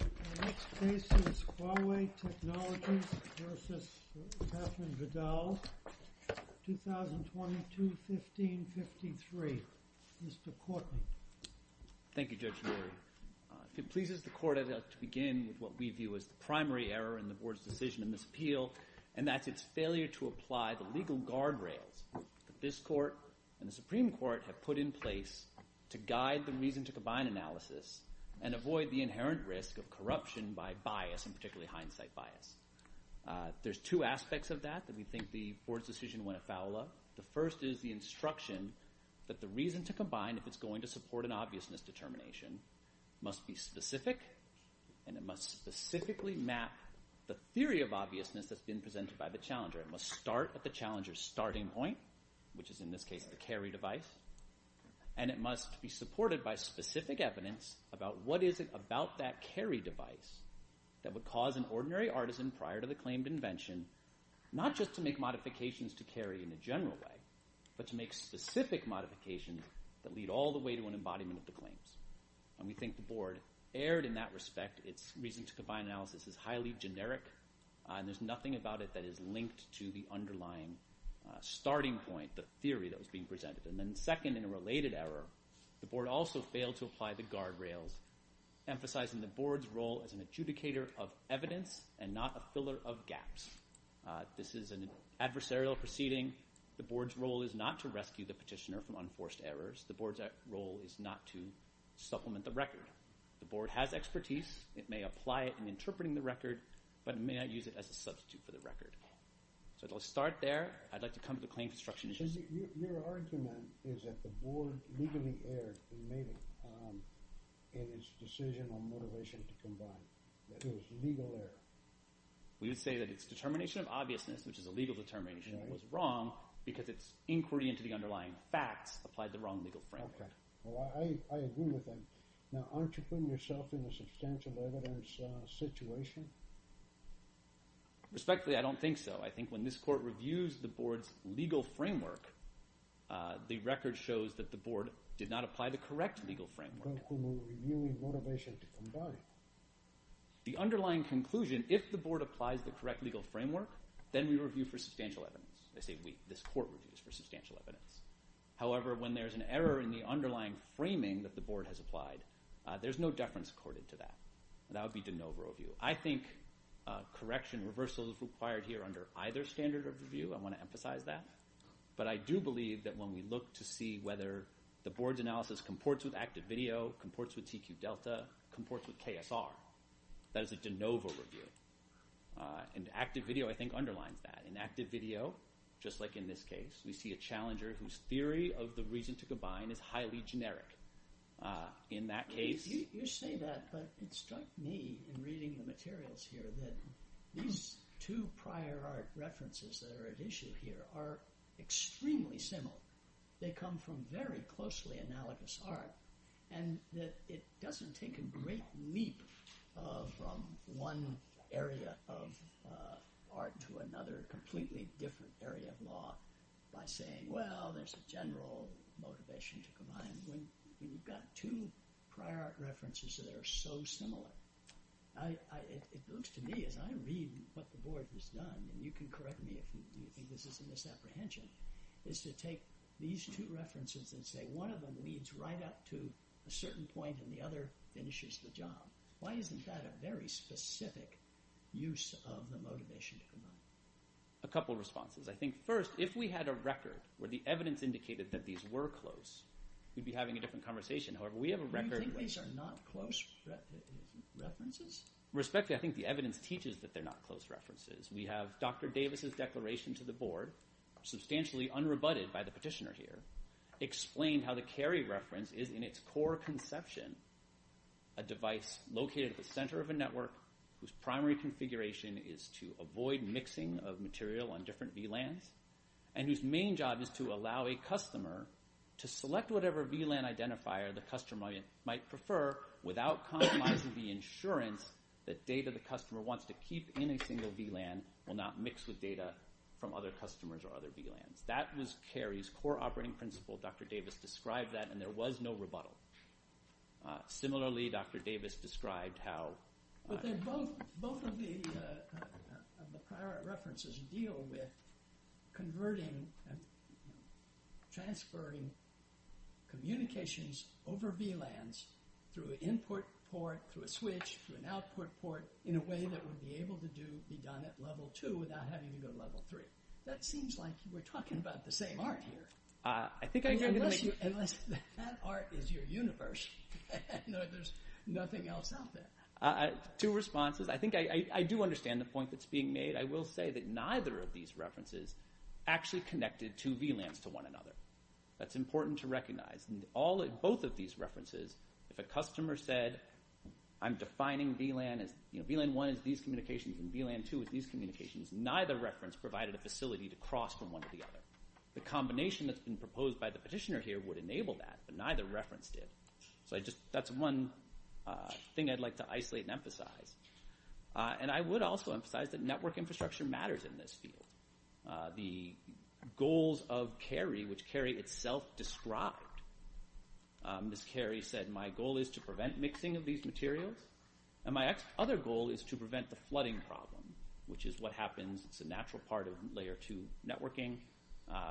Our next case is Huawei Technologies v. Catherine Vidal, 2022-1553. Mr. Courtney. Thank you, Judge Lurie. If it pleases the Court, I'd like to begin with what we view as the primary error in the Board's decision to misappeal, and that's its failure to apply the legal guardrails that this Court and the Supreme Court have put in place to guide the reason-to-combine analysis and avoid the inherent risk of corruption by bias, and particularly hindsight bias. There are two aspects of that that we think the Board's decision went afoul of. The first is the instruction that the reason-to-combine, if it's going to support an obviousness determination, must be specific, and it must specifically map the theory of obviousness that's been presented by the challenger. It must start at the challenger's starting point, which is in this case the carry device, and it must be supported by specific evidence about what is it about that carry device that would cause an ordinary artisan prior to the claimed invention not just to make modifications to carry in a general way, but to make specific modifications that lead all the way to an embodiment of the claims. And we think the Board erred in that respect. Its reason-to-combine analysis is highly generic, and there's nothing about it that is linked to the underlying starting point, the theory that was being presented. And then second, in a related error, the Board also failed to apply the guardrails, emphasizing the Board's role as an adjudicator of evidence and not a filler of gaps. This is an adversarial proceeding. The Board's role is not to rescue the petitioner from unforced errors. The Board's role is not to supplement the record. The Board has expertise. It may apply it in interpreting the record, but it may not use it as a substitute for the record. So I'll start there. I'd like to come to the claim construction issue. Your argument is that the Board legally erred in its decision on motivation-to-combine, that it was legal error. We would say that its determination of obviousness, which is a legal determination, was wrong because its inquiry into the underlying facts applied the wrong legal framework. Okay. Well, I agree with that. Now, aren't you putting yourself in a substantial evidence situation? Respectfully, I don't think so. I think when this Court reviews the Board's legal framework, the record shows that the Board did not apply the correct legal framework. The underlying conclusion, if the Board applies the correct legal framework, then we review for substantial evidence. I say we. This Court reviews for substantial evidence. However, when there's an error in the underlying framing that the Board has applied, there's no deference accorded to that. That would be de novo review. I think correction reversal is required here under either standard of review. I want to emphasize that. But I do believe that when we look to see whether the Board's analysis comports with active video, comports with TQ-Delta, comports with KSR, that is a de novo review. And active video, I think, underlines that. In active video, just like in this case, we see a challenger whose theory of the reason-to-combine is highly generic. In that case— You say that, but it struck me in reading the materials here that these two prior art references that are at issue here are extremely similar. They come from very closely analogous art, and that it doesn't take a great leap from one area of art to another completely different area of law by saying, well, there's a general motivation to combine. When you've got two prior art references that are so similar, it looks to me as I read what the Board has done, and you can correct me if you think this is a misapprehension, is to take these two references and say one of them leads right up to a certain point and the other finishes the job. Why isn't that a very specific use of the motivation to combine? A couple of responses. I think first, if we had a record where the evidence indicated that these were close, we'd be having a different conversation. However, we have a record— Do you think these are not close references? Respectfully, I think the evidence teaches that they're not close references. We have Dr. Davis's declaration to the Board, substantially unrebutted by the petitioner here, explained how the Cary reference is in its core conception a device located at the center of a network whose primary configuration is to avoid mixing of material on different VLANs and whose main job is to allow a customer to select whatever VLAN identifier the customer might prefer without compromising the insurance that data the customer wants to keep in a single VLAN will not mix with data from other customers or other VLANs. That was Cary's core operating principle. Dr. Davis described that, and there was no rebuttal. Similarly, Dr. Davis described how— Both of the prior references deal with converting and transferring communications over VLANs through an input port, through a switch, through an output port, in a way that would be able to be done at Level 2 without having to go to Level 3. That seems like we're talking about the same art here. Unless that art is your universe, there's nothing else out there. Two responses. I think I do understand the point that's being made. I will say that neither of these references actually connected two VLANs to one another. That's important to recognize. In both of these references, if a customer said, I'm defining VLAN 1 as these communications and VLAN 2 as these communications, neither reference provided a facility to cross from one to the other. The combination that's been proposed by the petitioner here would enable that, but neither reference did. That's one thing I'd like to isolate and emphasize. I would also emphasize that network infrastructure matters in this field. The goals of Cary, which Cary itself described— Ms. Cary said, my goal is to prevent mixing of these materials, and my other goal is to prevent the flooding problem, which is what happens. It's a natural part of Layer 2 networking.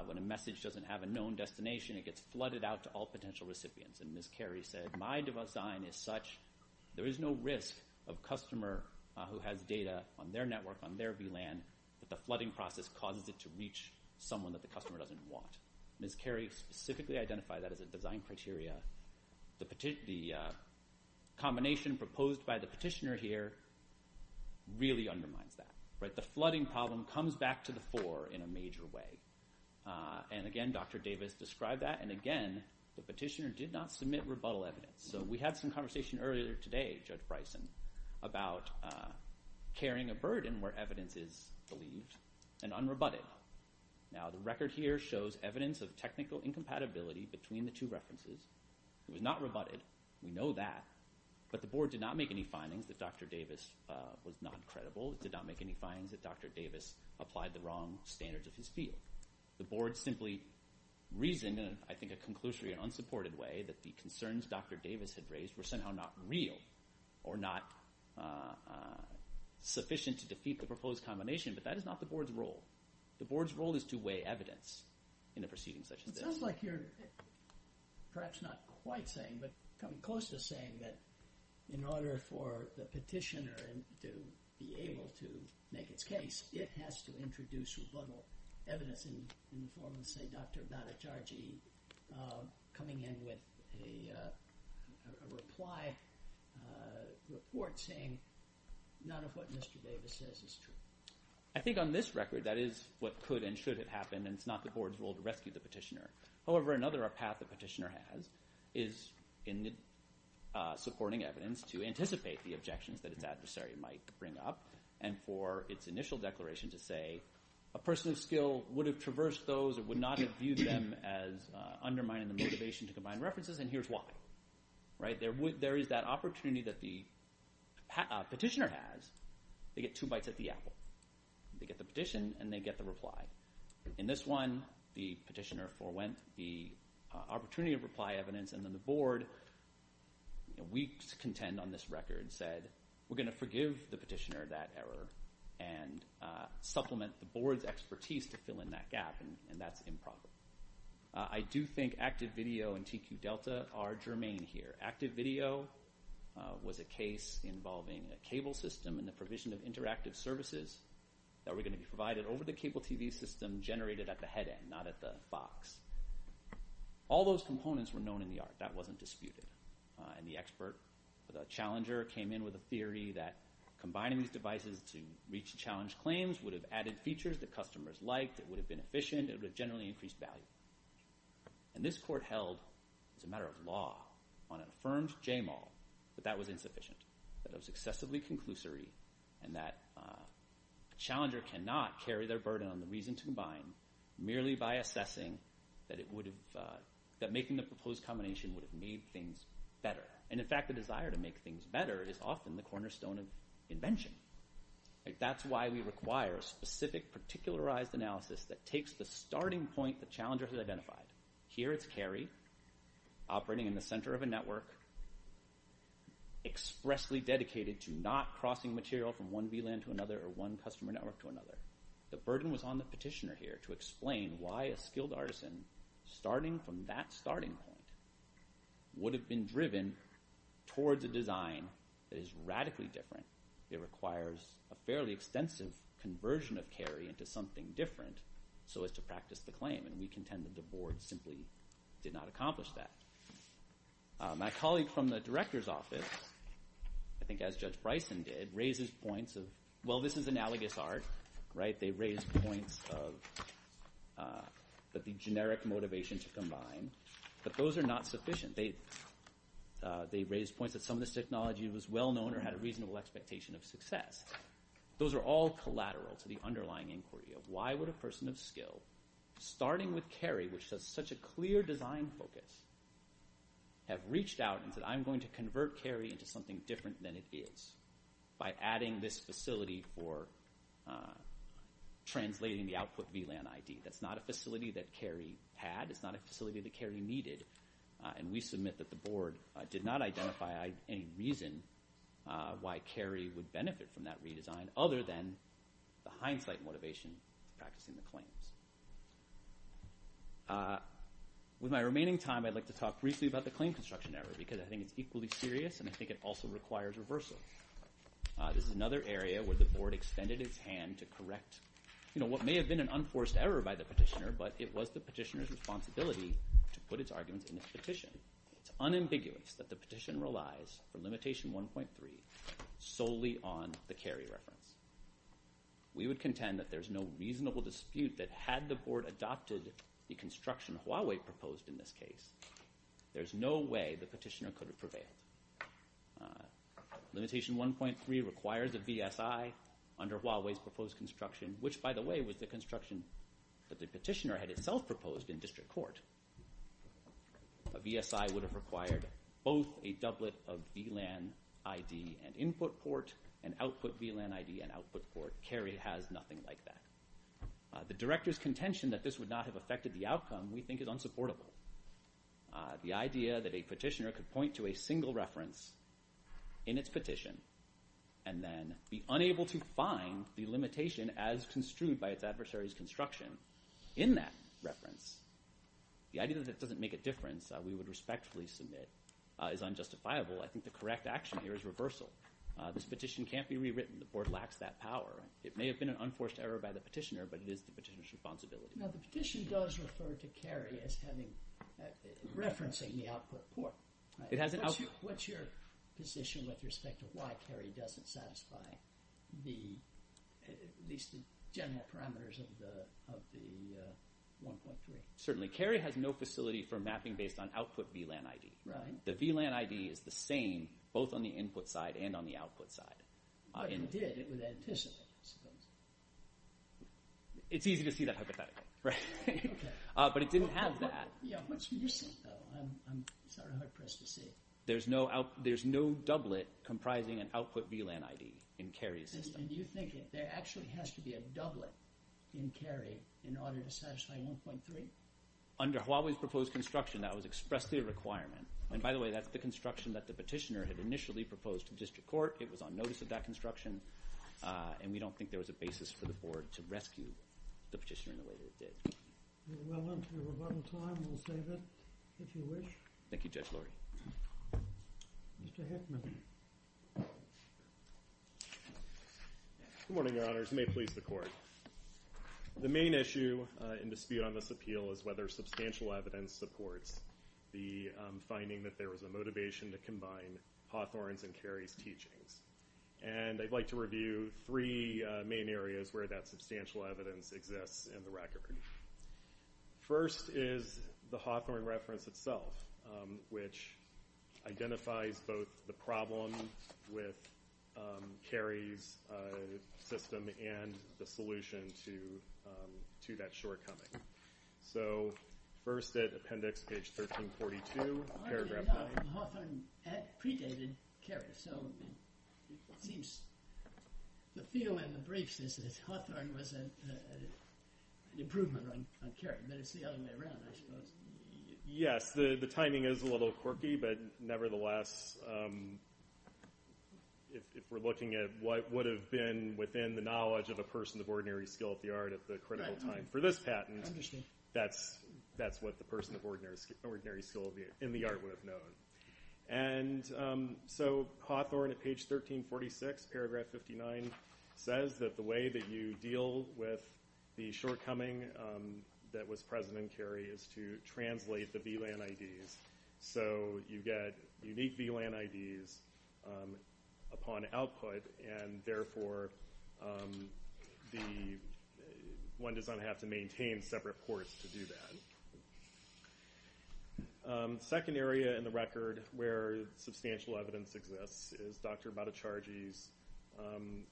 When a message doesn't have a known destination, it gets flooded out to all potential recipients. Ms. Cary said, my design is such there is no risk of a customer who has data on their network, on their VLAN, that the flooding process causes it to reach someone that the customer doesn't want. Ms. Cary specifically identified that as a design criteria. The combination proposed by the petitioner here really undermines that. The flooding problem comes back to the fore in a major way. Again, Dr. Davis described that, and again, the petitioner did not submit rebuttal evidence. We had some conversation earlier today, Judge Bryson, about carrying a burden where evidence is believed and unrebutted. Now, the record here shows evidence of technical incompatibility between the two references. It was not rebutted. We know that. But the board did not make any findings that Dr. Davis was not credible. It did not make any findings that Dr. Davis applied the wrong standards of his field. The board simply reasoned in, I think, a conclusory and unsupported way that the concerns Dr. Davis had raised were somehow not real or not sufficient to defeat the proposed combination, but that is not the board's role. The board's role is to weigh evidence in a proceeding such as this. It sounds like you're perhaps not quite saying, but coming close to saying, that in order for the petitioner to be able to make its case, it has to introduce rebuttal evidence in the form of, say, Dr. Bhattacharjee coming in with a reply report saying none of what Mr. Davis says is true. I think on this record that is what could and should have happened, and it's not the board's role to rescue the petitioner. However, another path the petitioner has is in supporting evidence to anticipate the objections that its adversary might bring up and for its initial declaration to say a person of skill would have traversed those or would not have viewed them as undermining the motivation to combine references, and here's why. There is that opportunity that the petitioner has. They get two bites at the apple. They get the petition, and they get the reply. In this one, the petitioner forwent the opportunity of reply evidence, and then the board, weak to contend on this record, said, we're going to forgive the petitioner that error and supplement the board's expertise to fill in that gap, and that's improper. I do think active video and TQ Delta are germane here. Active video was a case involving a cable system and the provision of interactive services that were going to be provided over the cable TV system generated at the head end, not at the fox. All those components were known in the art. That wasn't disputed, and the expert, the challenger, came in with a theory that combining these devices to reach the challenged claims would have added features that customers liked. It would have been efficient. It would have generally increased value, and this court held as a matter of law on an affirmed JMAL that that was insufficient, that it was excessively conclusory, and that a challenger cannot carry their burden on the reason to combine merely by assessing that making the proposed combination would have made things better, and in fact the desire to make things better is often the cornerstone of invention. That's why we require a specific particularized analysis that takes the starting point the challenger has identified. Here it's carry, operating in the center of a network, expressly dedicated to not crossing material from one VLAN to another or one customer network to another. The burden was on the petitioner here to explain why a skilled artisan, starting from that starting point, would have been driven towards a design that is radically different. It requires a fairly extensive conversion of carry into something different so as to practice the claim, and we contend that the board simply did not accomplish that. My colleague from the director's office, I think as Judge Bryson did, raises points of, well, this is analogous art, right? But the generic motivation to combine, but those are not sufficient. They raise points that some of this technology was well-known or had a reasonable expectation of success. Those are all collateral to the underlying inquiry of why would a person of skill, starting with carry, which has such a clear design focus, have reached out and said, I'm going to convert carry into something different than it is by adding this facility for translating the output VLAN ID. That's not a facility that carry had. It's not a facility that carry needed. And we submit that the board did not identify any reason why carry would benefit from that redesign, other than the hindsight motivation practicing the claims. With my remaining time, I'd like to talk briefly about the claim construction error, because I think it's equally serious and I think it also requires reversal. This is another area where the board extended its hand to correct what may have been an unforced error by the petitioner, but it was the petitioner's responsibility to put its arguments in its petition. It's unambiguous that the petition relies for limitation 1.3 solely on the carry reference. We would contend that there's no reasonable dispute that had the board adopted the construction Huawei proposed in this case, there's no way the petitioner could have prevailed. Limitation 1.3 requires a VSI under Huawei's proposed construction, which, by the way, was the construction that the petitioner had itself proposed in district court. A VSI would have required both a doublet of VLAN ID and input port and output VLAN ID and output port. Carry has nothing like that. The director's contention that this would not have affected the outcome we think is unsupportable. The idea that a petitioner could point to a single reference in its petition and then be unable to find the limitation as construed by its adversary's construction in that reference, the idea that it doesn't make a difference, we would respectfully submit, is unjustifiable. I think the correct action here is reversal. This petition can't be rewritten. The board lacks that power. It may have been an unforced error by the petitioner, but it is the petitioner's responsibility. Now, the petition does refer to Carry as referencing the output port. What's your position with respect to why Carry doesn't satisfy at least the general parameters of the 1.3? Certainly. Carry has no facility for mapping based on output VLAN ID. The VLAN ID is the same both on the input side and on the output side. But you did. It was anticipated, I suppose. It's easy to see that hypothetically, right? Okay. But it didn't have that. Yeah. What's your sense, though? I'm sort of hard-pressed to see. There's no doublet comprising an output VLAN ID in Carry's system. And you think there actually has to be a doublet in Carry in order to satisfy 1.3? Under Huawei's proposed construction, that was expressly a requirement. And by the way, that's the construction that the petitioner had initially proposed to district court. It was on notice of that construction. And we don't think there was a basis for the board to rescue the petitioner in the way that it did. We're well into our rebuttal time. We'll save it if you wish. Thank you, Judge Lurie. Mr. Heckman. Good morning, Your Honors. May it please the Court. The main issue in dispute on this appeal is whether substantial evidence supports the finding that there was a motivation to combine Hawthorne's and Carry's teachings. And I'd like to review three main areas where that substantial evidence exists in the record. First is the Hawthorne reference itself, which identifies both the problem with Carry's system and the solution to that shortcoming. So first at appendix page 1342, paragraph 9. Hawthorne had predated Carry, so it seems the feel in the briefs is that Hawthorne was an improvement on Carry, but it's the other way around, I suppose. Yes, the timing is a little quirky, but nevertheless, if we're looking at what would have been within the knowledge of a person of ordinary skill at the art at the critical time for this patent, that's what the person of ordinary skill in the art would have known. And so Hawthorne at page 1346, paragraph 59, says that the way that you deal with the shortcoming that was present in Carry is to translate the VLAN IDs. So you get unique VLAN IDs upon output, and therefore one does not have to maintain separate ports to do that. Second area in the record where substantial evidence exists is Dr. Bhattacharjee's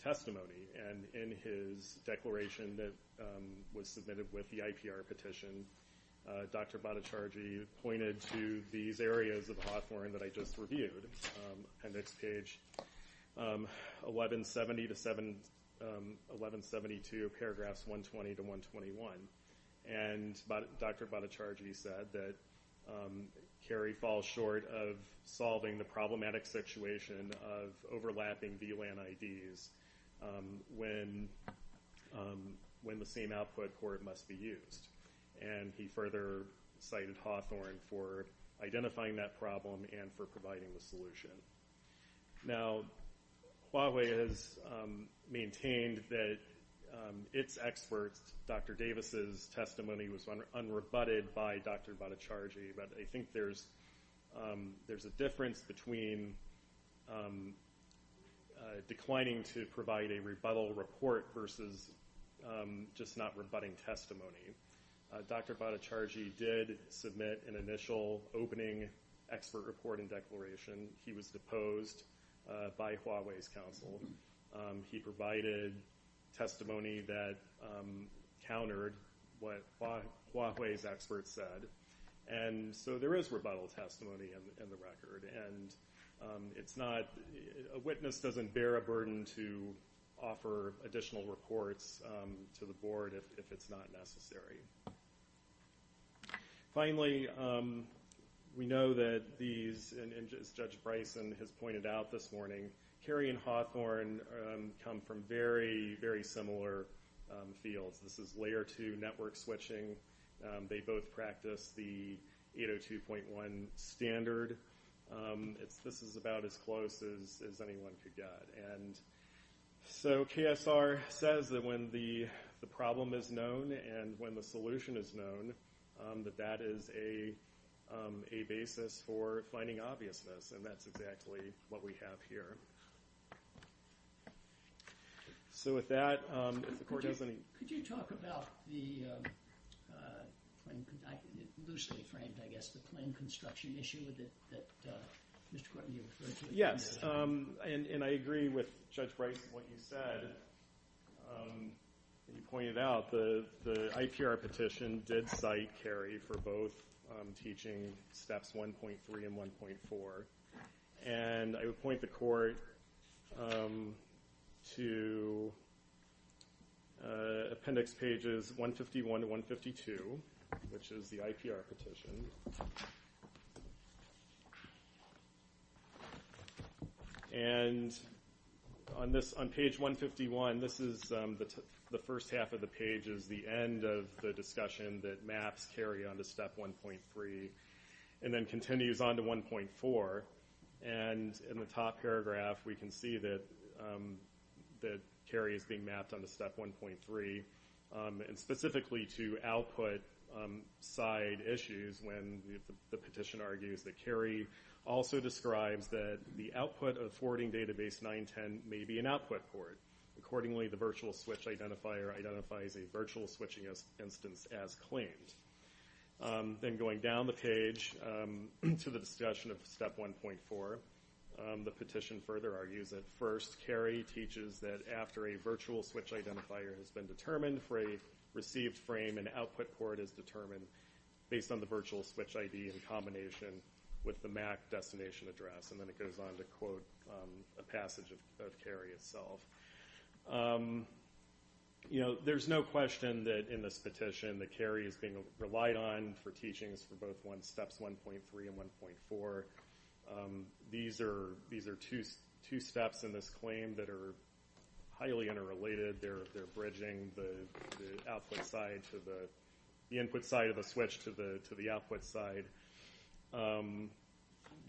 testimony, and in his declaration that was submitted with the IPR petition, Dr. Bhattacharjee pointed to these areas of Hawthorne that I just reviewed, appendix page 1172, paragraphs 120 to 121. And Dr. Bhattacharjee said that Carry falls short of solving the problematic situation of overlapping VLAN IDs when the same output port must be used. And he further cited Hawthorne for identifying that problem and for providing the solution. Now, Huawei has maintained that its experts, Dr. Davis's testimony was unrebutted by Dr. Bhattacharjee, but I think there's a difference between declining to provide a rebuttal report versus just not rebutting testimony. Dr. Bhattacharjee did submit an initial opening expert report and declaration. He was deposed by Huawei's counsel. He provided testimony that countered what Huawei's experts said. And so there is rebuttal testimony in the record, and a witness doesn't bear a burden to offer additional reports to the board if it's not necessary. Finally, we know that these, as Judge Bryson has pointed out this morning, Carry and Hawthorne come from very, very similar fields. This is Layer 2 network switching. They both practice the 802.1 standard. This is about as close as anyone could get. And so KSR says that when the problem is known and when the solution is known, that that is a basis for finding obviousness. And that's exactly what we have here. So with that, if the court has any- Could you talk about the loosely framed, I guess, the claim construction issue that Mr. Quarton you referred to? Yes, and I agree with Judge Bryson what you said. You pointed out the IPR petition did cite Carry for both teaching steps 1.3 and 1.4. And I would point the court to appendix pages 151 to 152, which is the IPR petition. And on page 151, this is the first half of the page is the end of the discussion that maps Carry on to step 1.3 and then continues on to 1.4. And in the top paragraph, we can see that Carry is being mapped on to step 1.3. And specifically to output side issues when the petition argues that Carry also describes that the output of forwarding database 910 may be an output port. Accordingly, the virtual switch identifier identifies a virtual switching instance as claimed. Then going down the page to the discussion of step 1.4, the petition further argues that first, Carry teaches that after a virtual switch identifier has been determined for a received frame, an output port is determined based on the virtual switch ID in combination with the MAC destination address. And then it goes on to quote a passage of Carry itself. You know, there's no question that in this petition that Carry is being relied on for teachings for both steps 1.3 and 1.4. These are two steps in this claim that are highly interrelated. They're bridging the output side to the input side of a switch to the output side.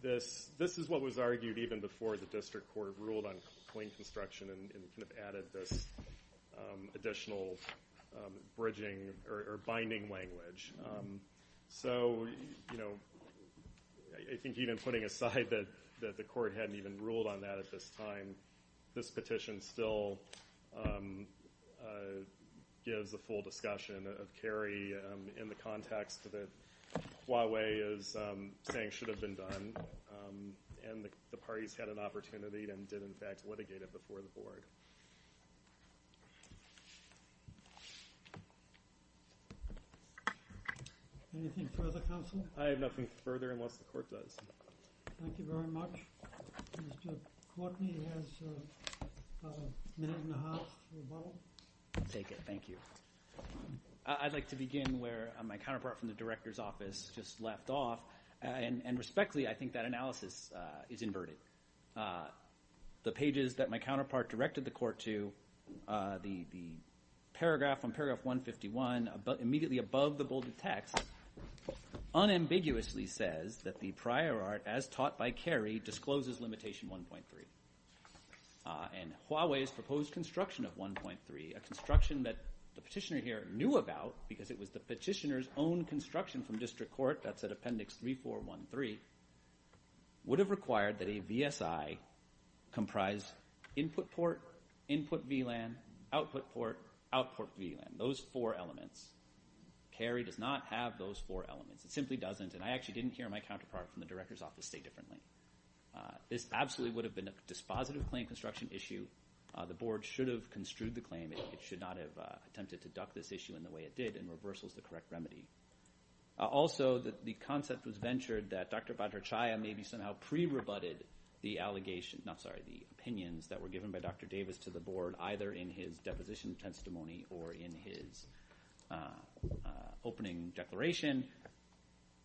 This is what was argued even before the district court ruled on clean construction and kind of added this additional bridging or binding language. So, you know, I think even putting aside that the court hadn't even ruled on that at this time, this petition still gives the full discussion of Carry in the context that Huawei is saying should have been done. And the parties had an opportunity and did, in fact, litigate it before the board. Anything further, counsel? I have nothing further unless the court does. Thank you very much. Mr. Courtney has a minute and a half to rebuttal. I'll take it. Thank you. I'd like to begin where my counterpart from the director's office just left off. And respectfully, I think that analysis is inverted. The pages that my counterpart directed the court to, the paragraph on paragraph 151, immediately above the bolded text, unambiguously says that the prior art, as taught by Carry, discloses limitation 1.3. And Huawei's proposed construction of 1.3, a construction that the petitioner here knew about because it was the petitioner's own construction from district court, that's at appendix 3413, would have required that a VSI comprise input port, input VLAN, output port, output VLAN. Those four elements. Carry does not have those four elements. It simply doesn't. And I actually didn't hear my counterpart from the director's office say differently. This absolutely would have been a dispositive claim construction issue. The board should have construed the claim. It should not have attempted to duck this issue in the way it did in reversals to correct remedy. Also, the concept was ventured that Dr. Bhattacharya maybe somehow pre-rebutted the allegations, not sorry, the opinions that were given by Dr. Davis to the board, either in his deposition testimony or in his opening declaration.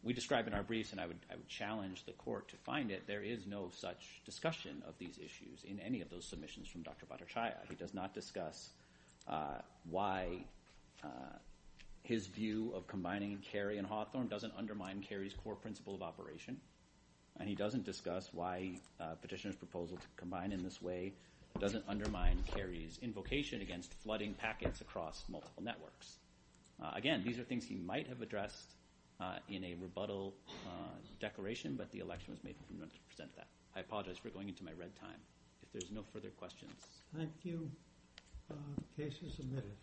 We describe in our briefs, and I would challenge the court to find it, there is no such discussion of these issues in any of those submissions from Dr. Bhattacharya. He does not discuss why his view of combining carry and Hawthorne doesn't undermine carry's core principle of operation. And he doesn't discuss why petitioner's proposal to combine in this way doesn't undermine carry's invocation against flooding packets across multiple networks. Again, these are things he might have addressed in a rebuttal declaration, but the election was made for him not to present that. I apologize for going into my red time. If there's no further questions. Thank you. Case is submitted.